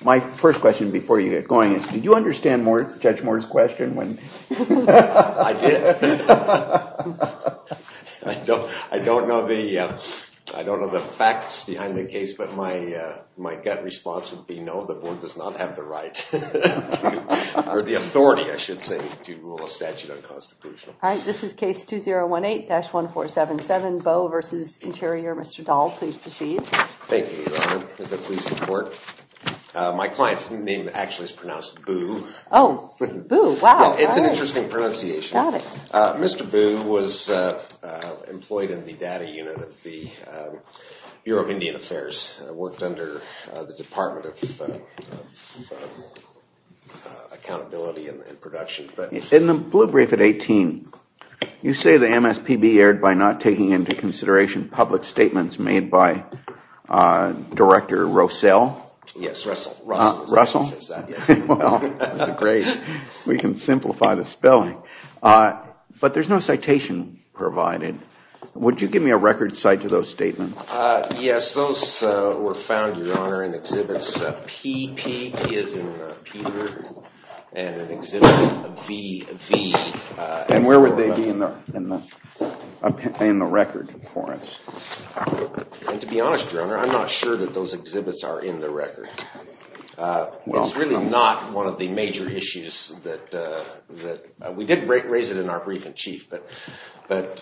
My first question before you get going is, did you understand Judge Moore's question? I did. I don't know the facts behind the case, but my gut response would be no. The board does not have the right or the authority, I should say, to rule a statute unconstitutional. All right, this is case 2018-1477, Bough v. Interior. Mr. Dahl, please proceed. Thank you, Your Honor. My client's name actually is pronounced Boo. Oh, Boo, wow. It's an interesting pronunciation. Mr. Boo was employed in the data unit of the Bureau of Indian Affairs, worked under the Department of Accountability and Production. In the blue brief at 18, you say the MSPB erred by not taking into consideration public statements made by Director Rossell. Yes, Russell. Russell? Yes. Well, great. We can simplify the spelling. But there's no citation provided. Would you give me a record cite to those statements? Yes, those were found, Your Honor, in Exhibits P, P as in Peter, and Exhibits V, V. And where would they be in the record for us? And to be honest, Your Honor, I'm not sure that those exhibits are in the record. It's really not one of the major issues that – we did raise it in our brief in chief, but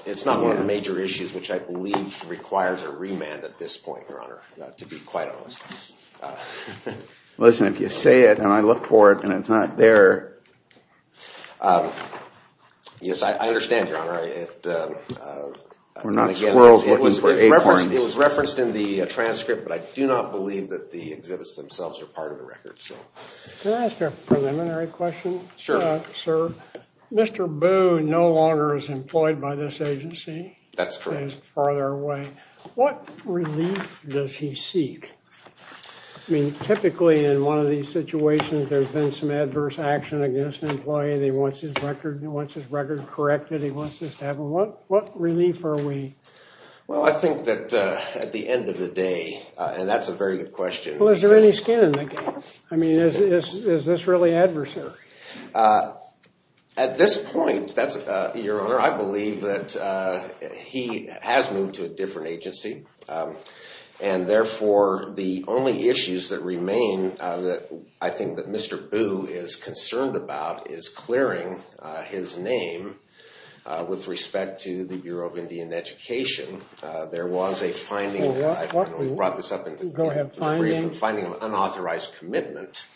it's not one of the major issues which I believe requires a remand at this point, Your Honor, to be quite honest. Listen, if you say it and I look for it and it's not there – We're not squirrels looking for acorns. It was referenced in the transcript, but I do not believe that the exhibits themselves are part of the record. Can I ask a preliminary question? Sure. Sir, Mr. Boo no longer is employed by this agency. That's correct. He's farther away. What relief does he seek? I mean, typically in one of these situations, there's been some adverse action against an employee and he wants his record corrected. He wants this to happen. What relief are we – Well, I think that at the end of the day – and that's a very good question. Well, is there any skin in the game? I mean, is this really adversary? At this point, Your Honor, I believe that he has moved to a different agency. And therefore, the only issues that remain that I think that Mr. Boo is concerned about is clearing his name with respect to the Bureau of Indian Education. There was a finding – we brought this up in the brief – Go ahead. Findings. Finding an unauthorized commitment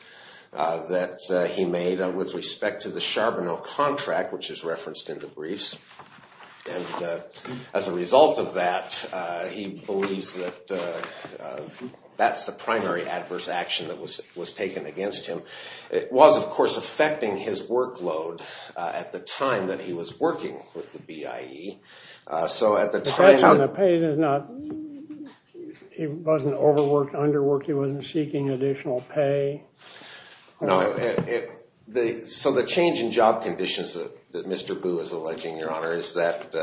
that he made with respect to the Charbonneau contract, which is referenced in the briefs. And as a result of that, he believes that that's the primary adverse action that was taken against him. It was, of course, affecting his workload at the time that he was working with the BIE. So at the time – The pay is not – he wasn't overworked, underworked? He wasn't seeking additional pay? No. So the change in job conditions that Mr. Boo is alleging, Your Honor, is that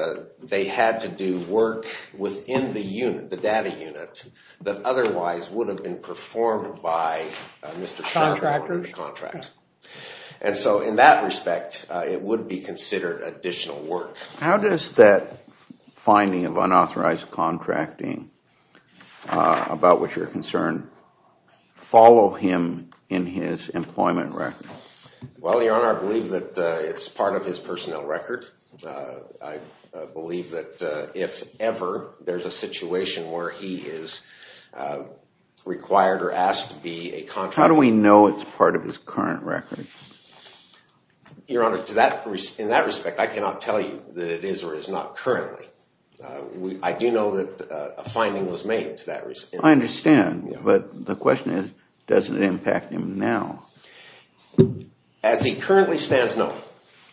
they had to do work within the unit, the data unit, that otherwise would have been performed by Mr. Charbonneau. Contractors? Contracts. And so in that respect, it would be considered additional work. How does that finding of unauthorized contracting, about which you're concerned, follow him in his employment record? Well, Your Honor, I believe that it's part of his personnel record. I believe that if ever there's a situation where he is required or asked to be a contractor – How do we know it's part of his current record? Your Honor, in that respect, I cannot tell you that it is or is not currently. I do know that a finding was made to that – I understand. But the question is, does it impact him now? As he currently stands, no.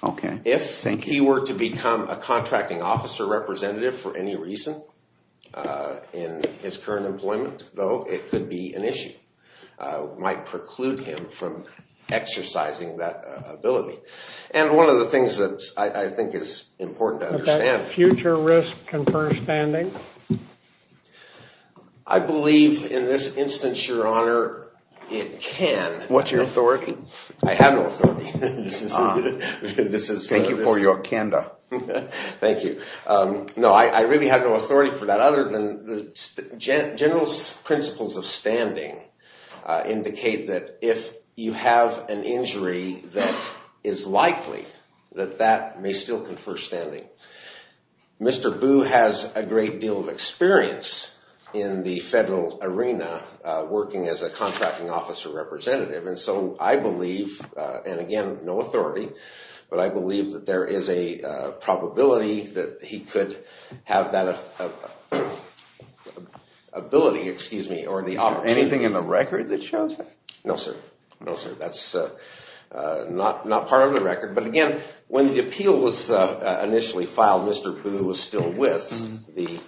Okay. Thank you. If he were to become a contracting officer representative for any reason in his current employment, though, it could be an issue. It might preclude him from exercising that ability. And one of the things that I think is important to understand – Does that future risk confer standing? I believe, in this instance, Your Honor, it can. What's your authority? I have no authority. Thank you for your candor. Thank you. No, I really have no authority for that other than the general principles of standing indicate that if you have an injury, that is likely that that may still confer standing. Mr. Boo has a great deal of experience in the federal arena working as a contracting officer representative. And so I believe – and again, no authority – but I believe that there is a probability that he could have that ability or the opportunity. Is there anything in the record that shows that? No, sir. No, sir. That's not part of the record. But again, when the appeal was initially filed, Mr. Boo was still with the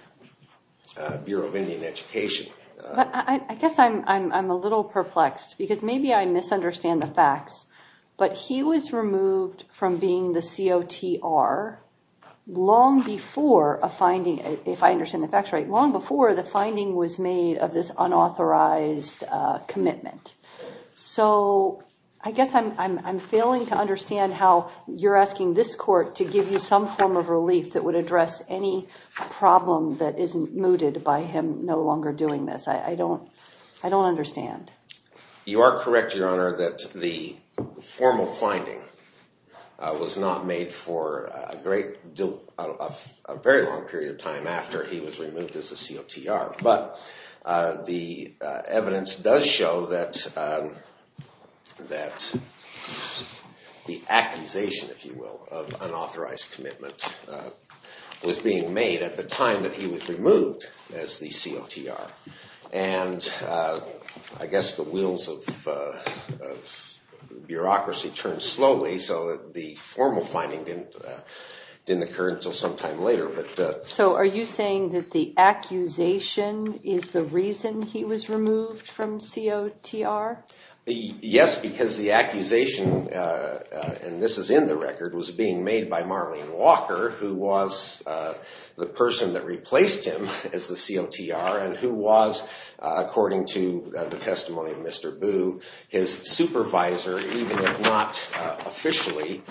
Bureau of Indian Education. I guess I'm a little perplexed because maybe I misunderstand the facts. But he was removed from being the COTR long before a finding – if I understand the facts right – long before the finding was made of this unauthorized commitment. So I guess I'm failing to understand how you're asking this court to give you some form of relief that would address any problem that is mooted by him no longer doing this. I don't understand. You are correct, Your Honor, that the formal finding was not made for a very long period of time after he was removed as a COTR. But the evidence does show that the accusation, if you will, of unauthorized commitment was being made at the time that he was removed as the COTR. And I guess the wheels of bureaucracy turned slowly so that the formal finding didn't occur until sometime later. So are you saying that the accusation is the reason he was removed from COTR? Yes, because the accusation – and this is in the record – was being made by Marlene Walker, who was the person that replaced him as the COTR, and who was, according to the testimony of Mr. Boo, his supervisor, even if not officially,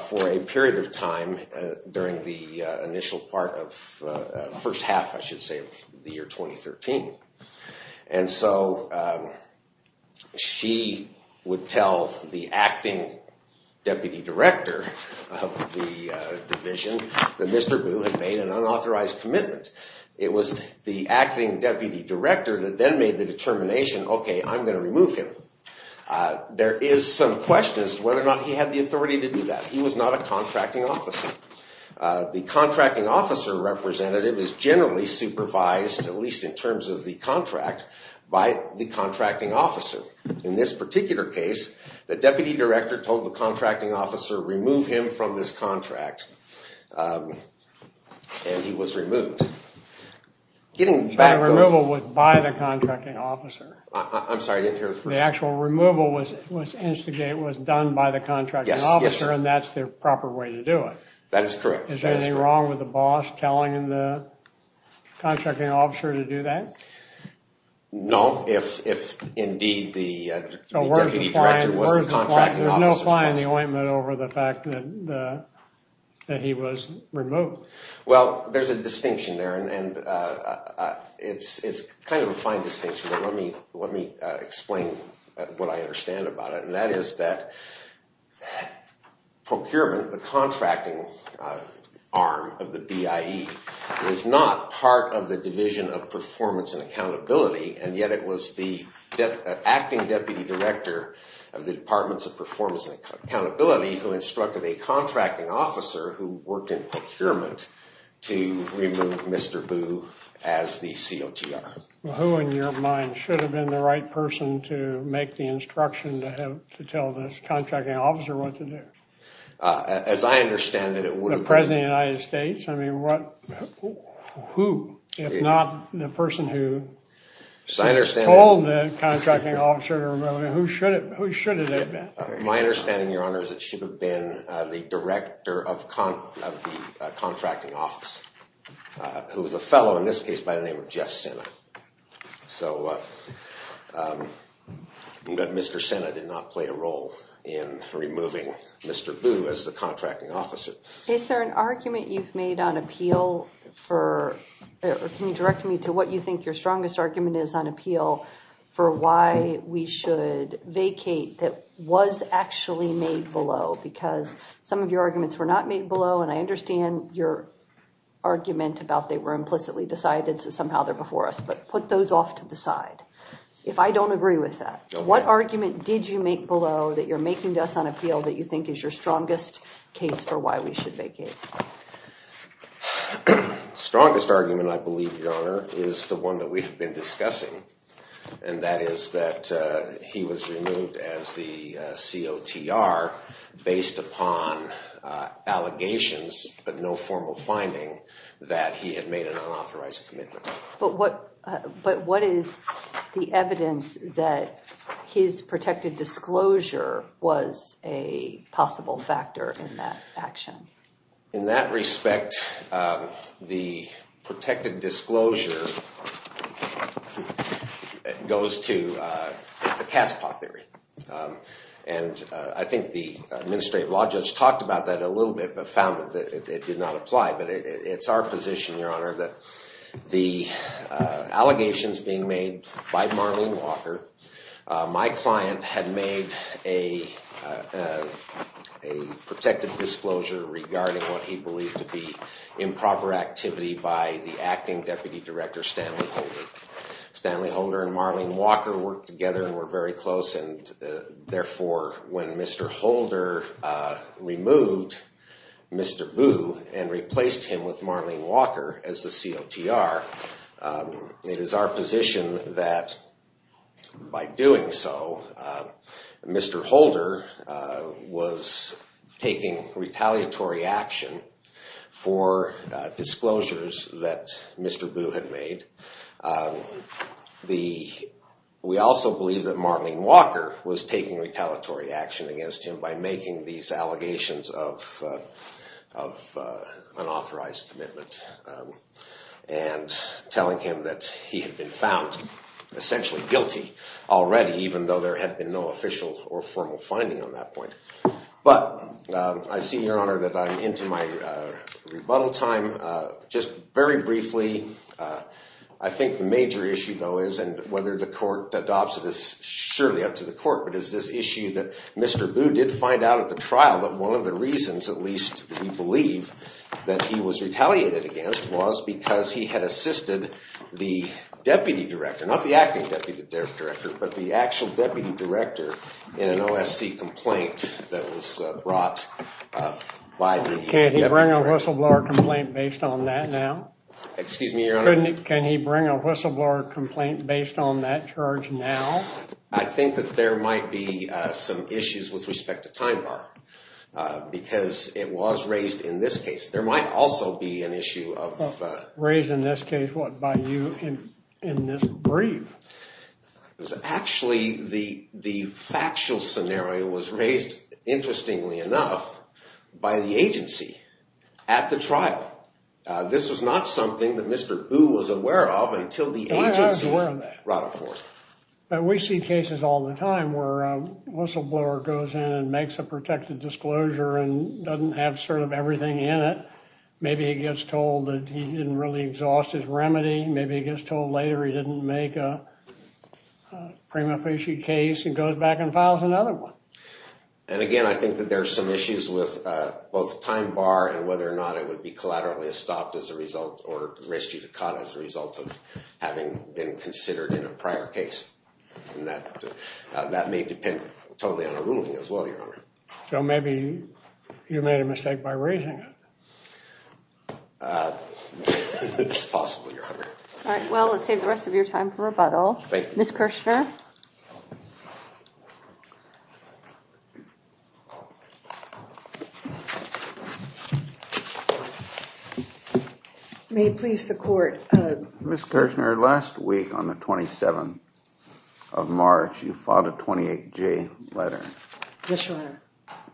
for a period of time during the initial part of the first half, I should say, of the year 2013. And so she would tell the acting deputy director of the division that Mr. Boo had made an unauthorized commitment. It was the acting deputy director that then made the determination, okay, I'm going to remove him. There is some question as to whether or not he had the authority to do that. He was not a contracting officer. The contracting officer representative is generally supervised, at least in terms of the contract, by the contracting officer. In this particular case, the deputy director told the contracting officer, remove him from this contract, and he was removed. The removal was by the contracting officer. I'm sorry, I didn't hear the first part. The actual removal was done by the contracting officer, and that's the proper way to do it. That is correct. Is there anything wrong with the boss telling the contracting officer to do that? No, if indeed the deputy director was the contracting officer. There's no flying the ointment over the fact that he was removed. Well, there's a distinction there, and it's kind of a fine distinction, but let me explain what I understand about it. That is that procurement, the contracting arm of the BIE, is not part of the division of performance and accountability, and yet it was the acting deputy director of the departments of performance and accountability who instructed a contracting officer who worked in procurement to remove Mr. Boo as the COGR. Who, in your mind, should have been the right person to make the instruction to tell this contracting officer what to do? As I understand it, it would have been— The President of the United States? I mean, who, if not the person who told the contracting officer to remove him, who should it have been? My understanding, Your Honor, is it should have been the director of the contracting office, who was a fellow in this case by the name of Jeff Sena. But Mr. Sena did not play a role in removing Mr. Boo as the contracting officer. Is there an argument you've made on appeal for— because some of your arguments were not made below, and I understand your argument about they were implicitly decided, so somehow they're before us, but put those off to the side. If I don't agree with that, what argument did you make below that you're making to us on appeal that you think is your strongest case for why we should vacate? The strongest argument, I believe, Your Honor, is the one that we have been discussing, and that is that he was removed as the COTR based upon allegations, but no formal finding that he had made an unauthorized commitment. But what is the evidence that his protected disclosure was a possible factor in that action? In that respect, the protected disclosure goes to—it's a cat's paw theory. And I think the administrative law judge talked about that a little bit, but found that it did not apply. But it's our position, Your Honor, that the allegations being made by Marlene Walker, my client had made a protected disclosure regarding what he believed to be improper activity by the acting deputy director, Stanley Holder. Stanley Holder and Marlene Walker worked together and were very close, and therefore when Mr. Holder removed Mr. Boo and replaced him with Marlene Walker as the COTR, it is our position that by doing so, Mr. Holder was taking retaliatory action for disclosures that Mr. Boo had made. We also believe that Marlene Walker was taking retaliatory action against him by making these allegations of unauthorized commitment. And telling him that he had been found essentially guilty already, even though there had been no official or formal finding on that point. But I see, Your Honor, that I'm into my rebuttal time. Just very briefly, I think the major issue though is, and whether the court adopts it is surely up to the court, but is this issue that Mr. Boo did find out at the trial that one of the reasons at least we believe that he was retaliated against was because he had assisted the deputy director, not the acting deputy director, but the actual deputy director in an OSC complaint that was brought by the deputy director. Can he bring a whistleblower complaint based on that now? Excuse me, Your Honor? Can he bring a whistleblower complaint based on that charge now? I think that there might be some issues with respect to time bar because it was raised in this case. There might also be an issue of… Raised in this case, what, by you in this brief? Actually, the factual scenario was raised, interestingly enough, by the agency at the trial. This was not something that Mr. Boo was aware of until the agency brought it forth. But we see cases all the time where a whistleblower goes in and makes a protected disclosure and doesn't have sort of everything in it. Maybe he gets told that he didn't really exhaust his remedy. Maybe he gets told later he didn't make a prima facie case and goes back and files another one. And again, I think that there are some issues with both time bar and whether or not it would be And that may depend totally on the ruling as well, Your Honor. So maybe you made a mistake by raising it. It's possible, Your Honor. All right, well, let's save the rest of your time for rebuttal. Thank you. May it please the Court. Ms. Kirchner, last week on the 27th of March, you filed a 28-J letter. Yes, Your Honor.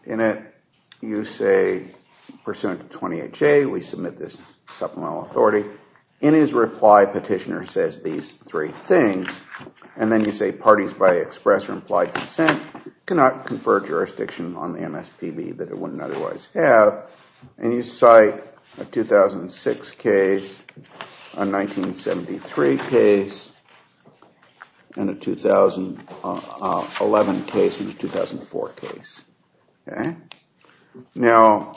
In it, you say, pursuant to 28-J, we submit this supplemental authority. In his reply, Petitioner says these three things. And then you say parties by express or implied consent cannot confer jurisdiction on the MSPB that it wouldn't otherwise have. And you cite a 2006 case, a 1973 case, and a 2011 case and a 2004 case. Okay? Now,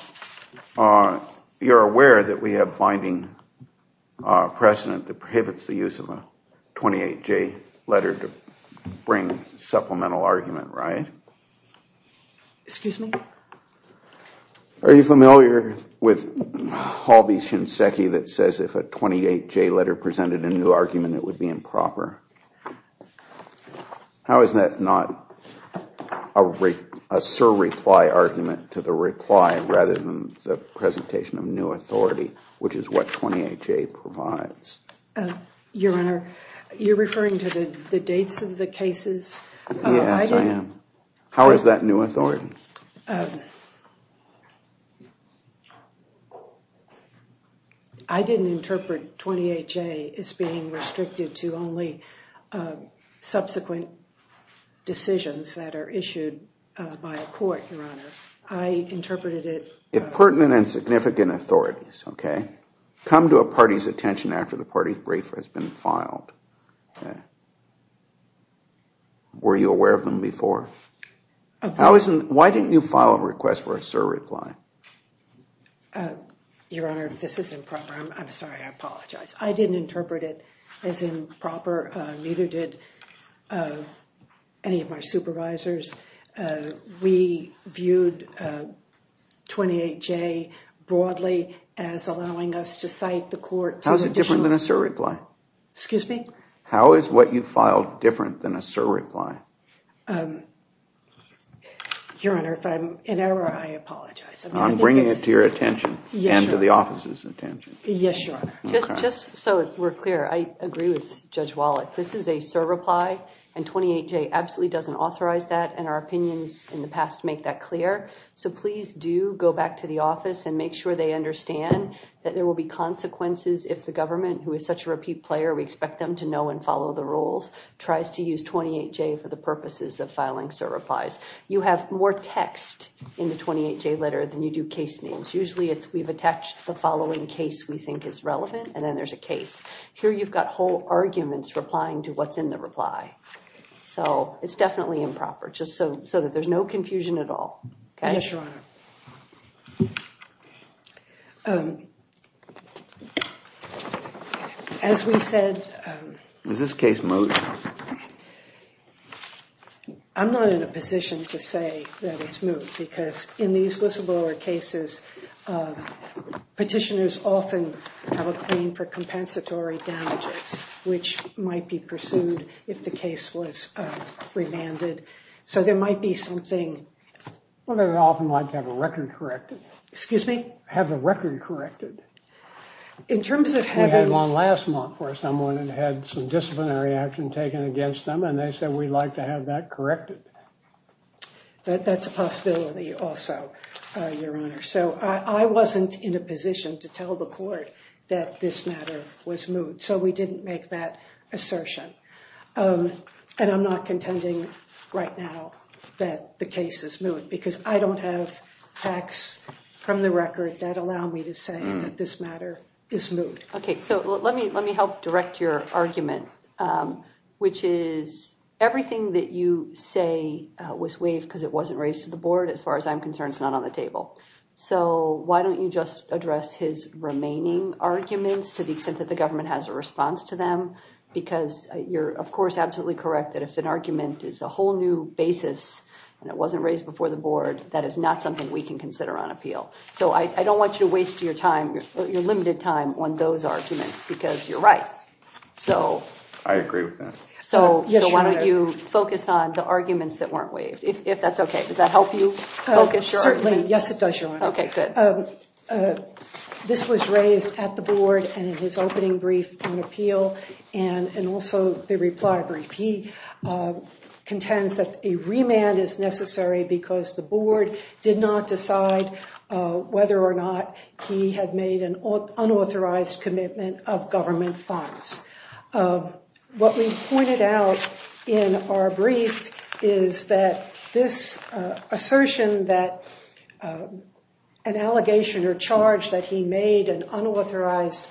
you're aware that we have binding precedent that prohibits the use of a 28-J letter to bring supplemental argument, right? Excuse me? Are you familiar with Halby Shinseki that says if a 28-J letter presented a new argument, it would be improper? How is that not a surreply argument to the reply rather than the presentation of new authority, which is what 28-J provides? Your Honor, you're referring to the dates of the cases? Yes, I am. How is that new authority? I didn't interpret 28-J as being restricted to only subsequent decisions that are issued by a court, Your Honor. I interpreted it- If pertinent and significant authorities, okay, come to a party's attention after the party's brief has been filed. Were you aware of them before? Why didn't you file a request for a surreply? Your Honor, if this is improper, I'm sorry, I apologize. I didn't interpret it as improper. Neither did any of my supervisors. We viewed 28-J broadly as allowing us to cite the court- How is it different than a surreply? Excuse me? How is what you filed different than a surreply? Your Honor, if I'm in error, I apologize. I'm bringing it to your attention and to the office's attention. Yes, Your Honor. Just so we're clear, I agree with Judge Wallach. This is a surreply, and 28-J absolutely doesn't authorize that, and our opinions in the past make that clear. So please do go back to the office and make sure they understand that there will be consequences if the government, who is such a repeat player, we expect them to know and follow the rules, tries to use 28-J for the purposes of filing surreplies. You have more text in the 28-J letter than you do case names. Usually we've attached the following case we think is relevant, and then there's a case. Here you've got whole arguments replying to what's in the reply. So it's definitely improper, just so that there's no confusion at all. Yes, Your Honor. As we said- Is this case moot? I'm not in a position to say that it's moot, because in these whistleblower cases, petitioners often have a claim for compensatory damages, which might be pursued if the case was revanded. So there might be something- Well, they would often like to have a record corrected. Excuse me? Have the record corrected. In terms of having- We had one last month where someone had had some disciplinary action taken against them, and they said, we'd like to have that corrected. That's a possibility also, Your Honor. So I wasn't in a position to tell the court that this matter was moot, so we didn't make that assertion. And I'm not contending right now that the case is moot, because I don't have facts from the record that allow me to say that this matter is moot. Okay, so let me help direct your argument, which is everything that you say was waived because it wasn't raised to the board, as far as I'm concerned, is not on the table. So why don't you just address his remaining arguments to the extent that the government has a response to them? Because you're, of course, absolutely correct that if an argument is a whole new basis and it wasn't raised before the board, that is not something we can consider on appeal. So I don't want you to waste your time, your limited time, on those arguments, because you're right. I agree with that. So why don't you focus on the arguments that weren't waived, if that's okay. Does that help you focus your argument? Certainly. Yes, it does, Your Honor. Okay, good. This was raised at the board and in his opening brief on appeal, and also the reply brief. He contends that a remand is necessary because the board did not decide whether or not he had made an unauthorized commitment of government funds. What we pointed out in our brief is that this assertion that an allegation or charge that he made an unauthorized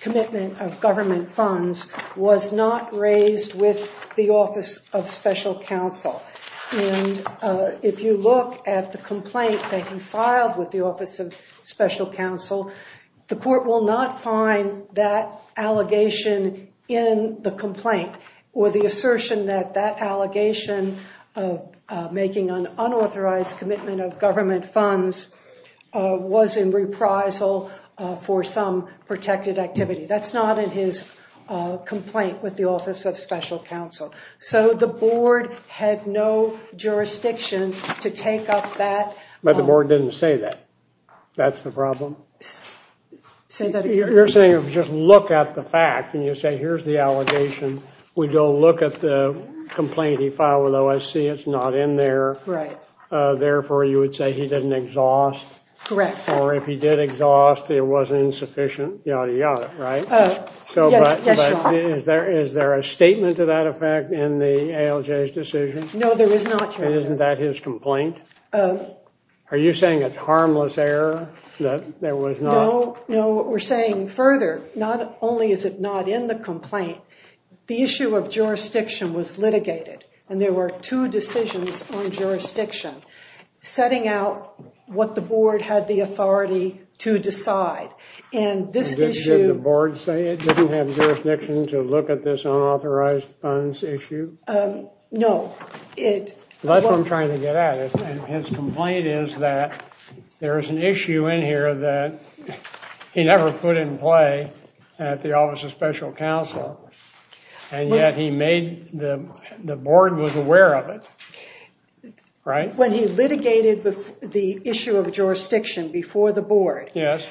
commitment of government funds was not raised with the Office of Special Counsel. And if you look at the complaint that he filed with the Office of Special Counsel, the court will not find that allegation in the complaint or the assertion that that allegation of making an unauthorized commitment of government funds was in reprisal for some protected activity. That's not in his complaint with the Office of Special Counsel. So the board had no jurisdiction to take up that. But the board didn't say that. That's the problem. Say that again. You're saying if you just look at the fact and you say here's the allegation, we don't look at the complaint he filed with OSC, it's not in there. Right. Therefore, you would say he didn't exhaust. Correct. Or if he did exhaust, it wasn't insufficient, yada yada, right? Yes, Your Honor. Is there a statement to that effect in the ALJ's decision? No, there is not, Your Honor. And isn't that his complaint? Are you saying it's harmless error that there was not? No, what we're saying further, not only is it not in the complaint, the issue of jurisdiction was litigated. And there were two decisions on jurisdiction, setting out what the board had the authority to decide. Did the board say it didn't have jurisdiction to look at this unauthorized funds issue? No. That's what I'm trying to get at. His complaint is that there is an issue in here that he never put in play at the Office of Special Counsel. And yet he made, the board was aware of it, right? When he litigated the issue of jurisdiction before the board. Yes.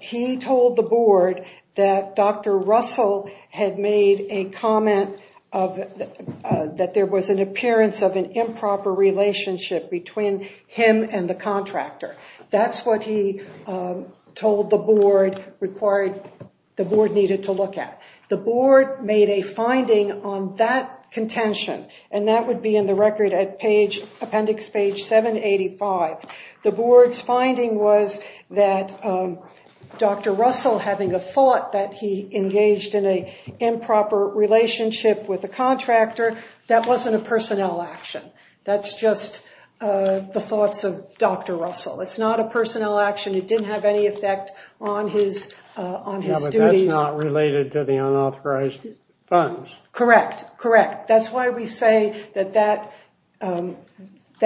He told the board that Dr. Russell had made a comment that there was an appearance of an improper relationship between him and the contractor. That's what he told the board required, the board needed to look at. The board made a finding on that contention, and that would be in the record at appendix page 785. The board's finding was that Dr. Russell, having a thought that he engaged in an improper relationship with a contractor, that wasn't a personnel action. That's just the thoughts of Dr. Russell. It's not a personnel action. It didn't have any effect on his duties. No, but that's not related to the unauthorized funds. Correct, correct. That's why we say that that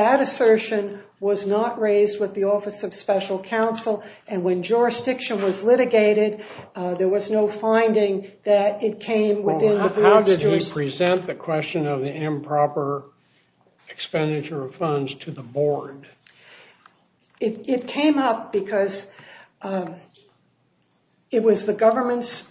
assertion was not raised with the Office of Special Counsel. And when jurisdiction was litigated, there was no finding that it came within the board's jurisdiction. How did he present the question of the improper expenditure of funds to the board? It came up because it was the government's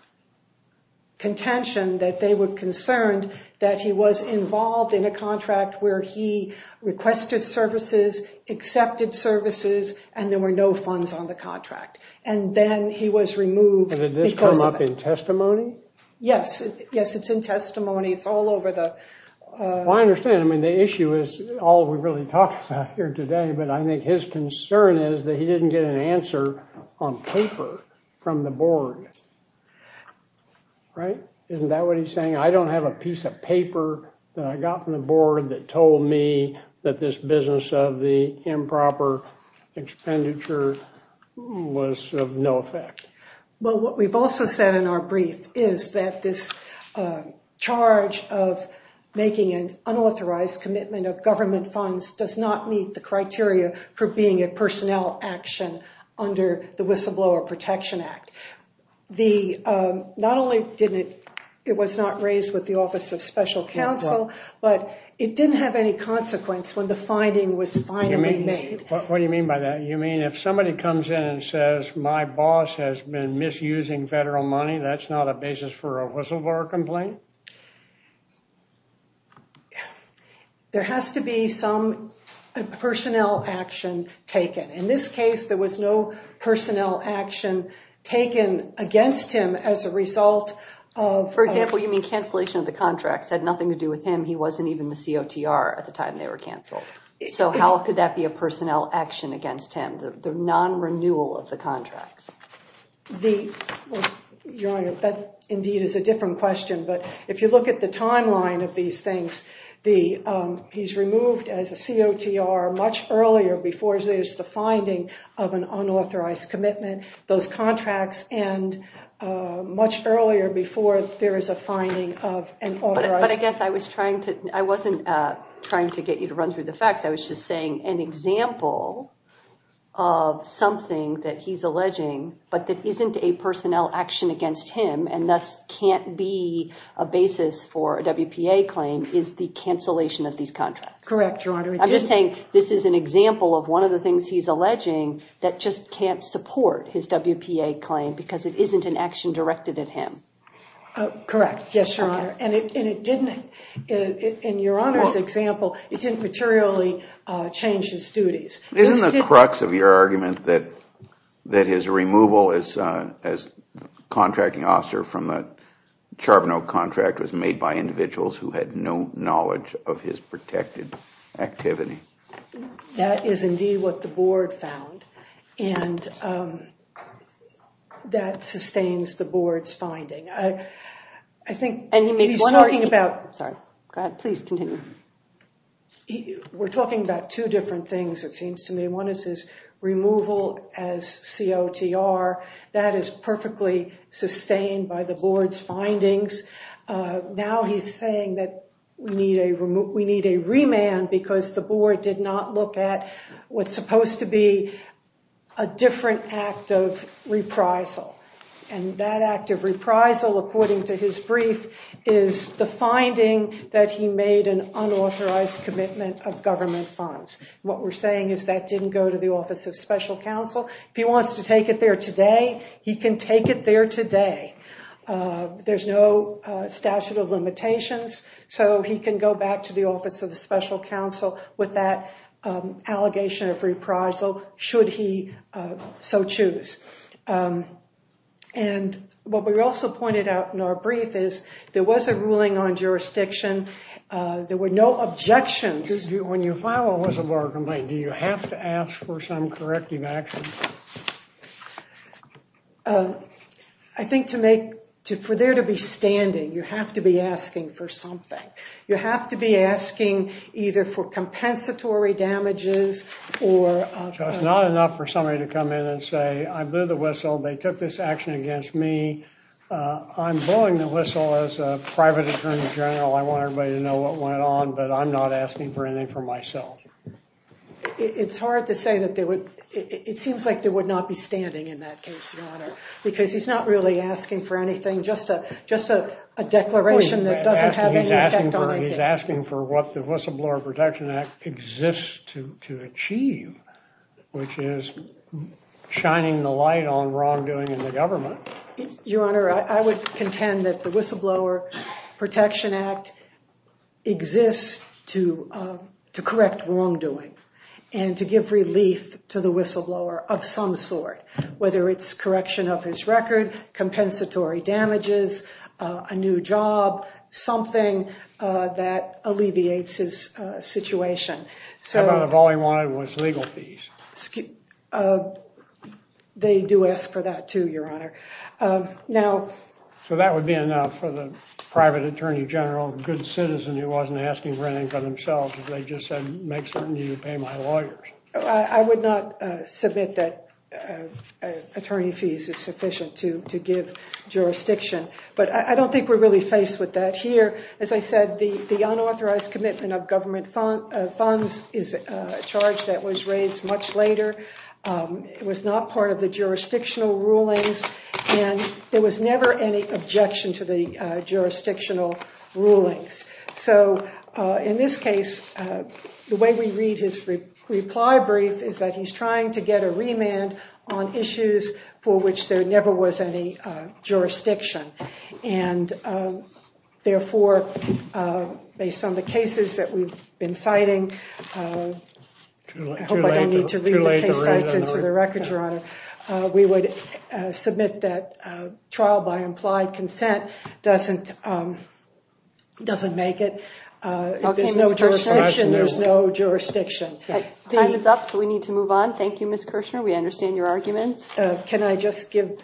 contention that they were concerned that he was involved in a contract where he requested services, accepted services, and there were no funds on the contract. And then he was removed. Did this come up in testimony? Yes, yes, it's in testimony. It's all over the... Well, I understand. I mean, the issue is all we really talked about here today. But I think his concern is that he didn't get an answer on paper from the board. Right? Isn't that what he's saying? I don't have a piece of paper that I got from the board that told me that this business of the improper expenditure was of no effect. Well, what we've also said in our brief is that this charge of making an unauthorized commitment of government funds does not meet the criteria for being a personnel action under the Whistleblower Protection Act. Not only was it not raised with the Office of Special Counsel, but it didn't have any consequence when the finding was finally made. What do you mean by that? You mean if somebody comes in and says, my boss has been misusing federal money, that's not a basis for a whistleblower complaint? There has to be some personnel action taken. In this case, there was no personnel action taken against him as a result of... For example, you mean cancellation of the contracts had nothing to do with him? He wasn't even the COTR at the time they were canceled. So how could that be a personnel action against him, the non-renewal of the contracts? Your Honor, that indeed is a different question. But if you look at the timeline of these things, he's removed as a COTR much earlier before there's the finding of an unauthorized commitment. Those contracts end much earlier before there is a finding of an authorized... But I guess I wasn't trying to get you to run through the facts. I was just saying an example of something that he's alleging, but that isn't a personnel action against him and thus can't be a basis for a WPA claim, is the cancellation of these contracts. Correct, Your Honor. I'm just saying this is an example of one of the things he's alleging that just can't support his WPA claim because it isn't an action directed at him. Correct. Yes, Your Honor. And it didn't, in Your Honor's example, it didn't materially change his duties. Isn't the crux of your argument that his removal as contracting officer from the Charbonneau contract was made by individuals who had no knowledge of his protected activity? That is indeed what the board found. And that sustains the board's finding. I think he's talking about... Sorry. Go ahead. Please continue. We're talking about two different things, it seems to me. One is his removal as COTR. That is perfectly sustained by the board's findings. Now he's saying that we need a remand because the board did not look at what's supposed to be a different act of reprisal. And that act of reprisal, according to his brief, is the finding that he made an unauthorized commitment of government funds. What we're saying is that didn't go to the Office of Special Counsel. If he wants to take it there today, he can take it there today. There's no statute of limitations. So he can go back to the Office of Special Counsel with that allegation of reprisal, should he so choose. And what we also pointed out in our brief is there was a ruling on jurisdiction. There were no objections. When you file a whistleblower complaint, do you have to ask for some corrective action? I think for there to be standing, you have to be asking for something. You have to be asking either for compensatory damages or— So it's not enough for somebody to come in and say, I blew the whistle. They took this action against me. I'm blowing the whistle as a private attorney general. I want everybody to know what went on, but I'm not asking for anything for myself. It's hard to say that they would—it seems like they would not be standing in that case, Your Honor, because he's not really asking for anything, just a declaration that doesn't have any effect on anything. He's asking for what the Whistleblower Protection Act exists to achieve, which is shining the light on wrongdoing in the government. Your Honor, I would contend that the Whistleblower Protection Act exists to correct wrongdoing and to give relief to the whistleblower of some sort, whether it's correction of his record, compensatory damages, a new job, something that alleviates his situation. How about if all he wanted was legal fees? They do ask for that, too, Your Honor. Now— So that would be enough for the private attorney general, a good citizen who wasn't asking for anything for themselves, if they just said, make certain you pay my lawyers. I would not submit that attorney fees is sufficient to give jurisdiction, but I don't think we're really faced with that here. As I said, the unauthorized commitment of government funds is a charge that was raised much later. It was not part of the jurisdictional rulings, and there was never any objection to the jurisdictional rulings. So in this case, the way we read his reply brief is that he's trying to get a remand on issues for which there never was any jurisdiction, and therefore, based on the cases that we've been citing— I hope I don't need to read the case cites into the record, Your Honor. We would submit that trial by implied consent doesn't make it. If there's no jurisdiction, there's no jurisdiction. Time is up, so we need to move on. Thank you, Ms. Kirshner. We understand your arguments. Can I just give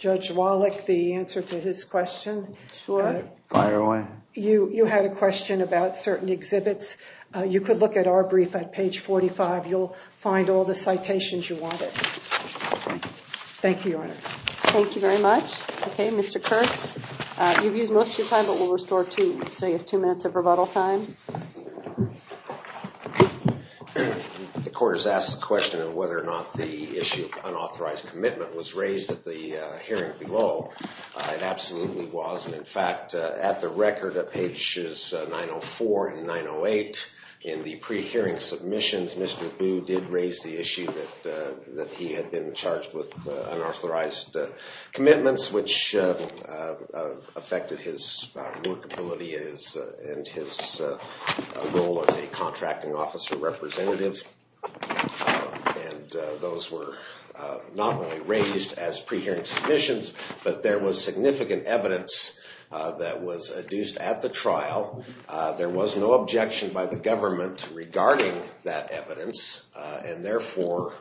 Judge Wallach the answer to his question? Sure. Fire away. You had a question about certain exhibits. You could look at our brief at page 45. You'll find all the citations you wanted. Thank you, Your Honor. Thank you very much. Okay, Mr. Kurtz. You've used most of your time, but we'll restore two minutes of rebuttal time. The court has asked the question of whether or not the issue of unauthorized commitment was raised at the hearing below. It absolutely was, and in fact, at the record at pages 904 and 908 in the pre-hearing submissions, Mr. Boo did raise the issue that he had been charged with unauthorized commitments, which affected his workability and his role as a contracting officer representative, and those were not only raised as pre-hearing submissions, but there was significant evidence that was adduced at the trial. There was no objection by the government regarding that evidence, and therefore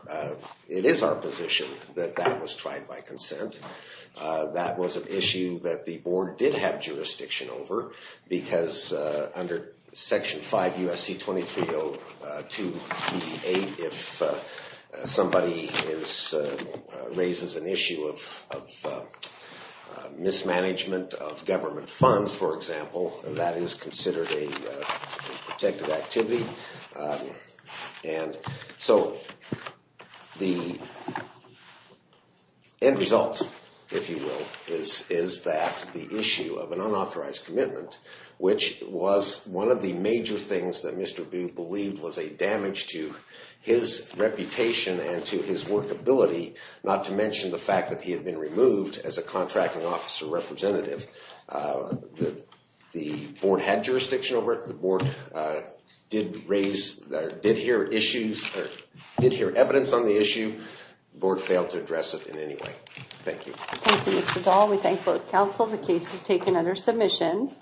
it is our position that that was tried by consent. That was an issue that the board did have jurisdiction over, because under Section 5 U.S.C. 2302 B.E. 8, if somebody raises an issue of mismanagement of government funds, for example, that is considered a protective activity. And so the end result, if you will, is that the issue of an unauthorized commitment, which was one of the major things that Mr. Boo believed was a damage to his reputation and to his workability, not to mention the fact that he had been removed as a contracting officer representative. The board had jurisdiction over it. The board did hear evidence on the issue. The board failed to address it in any way. Thank you. Thank you, Mr. Dahl. We thank both counsel. The case is taken under submission.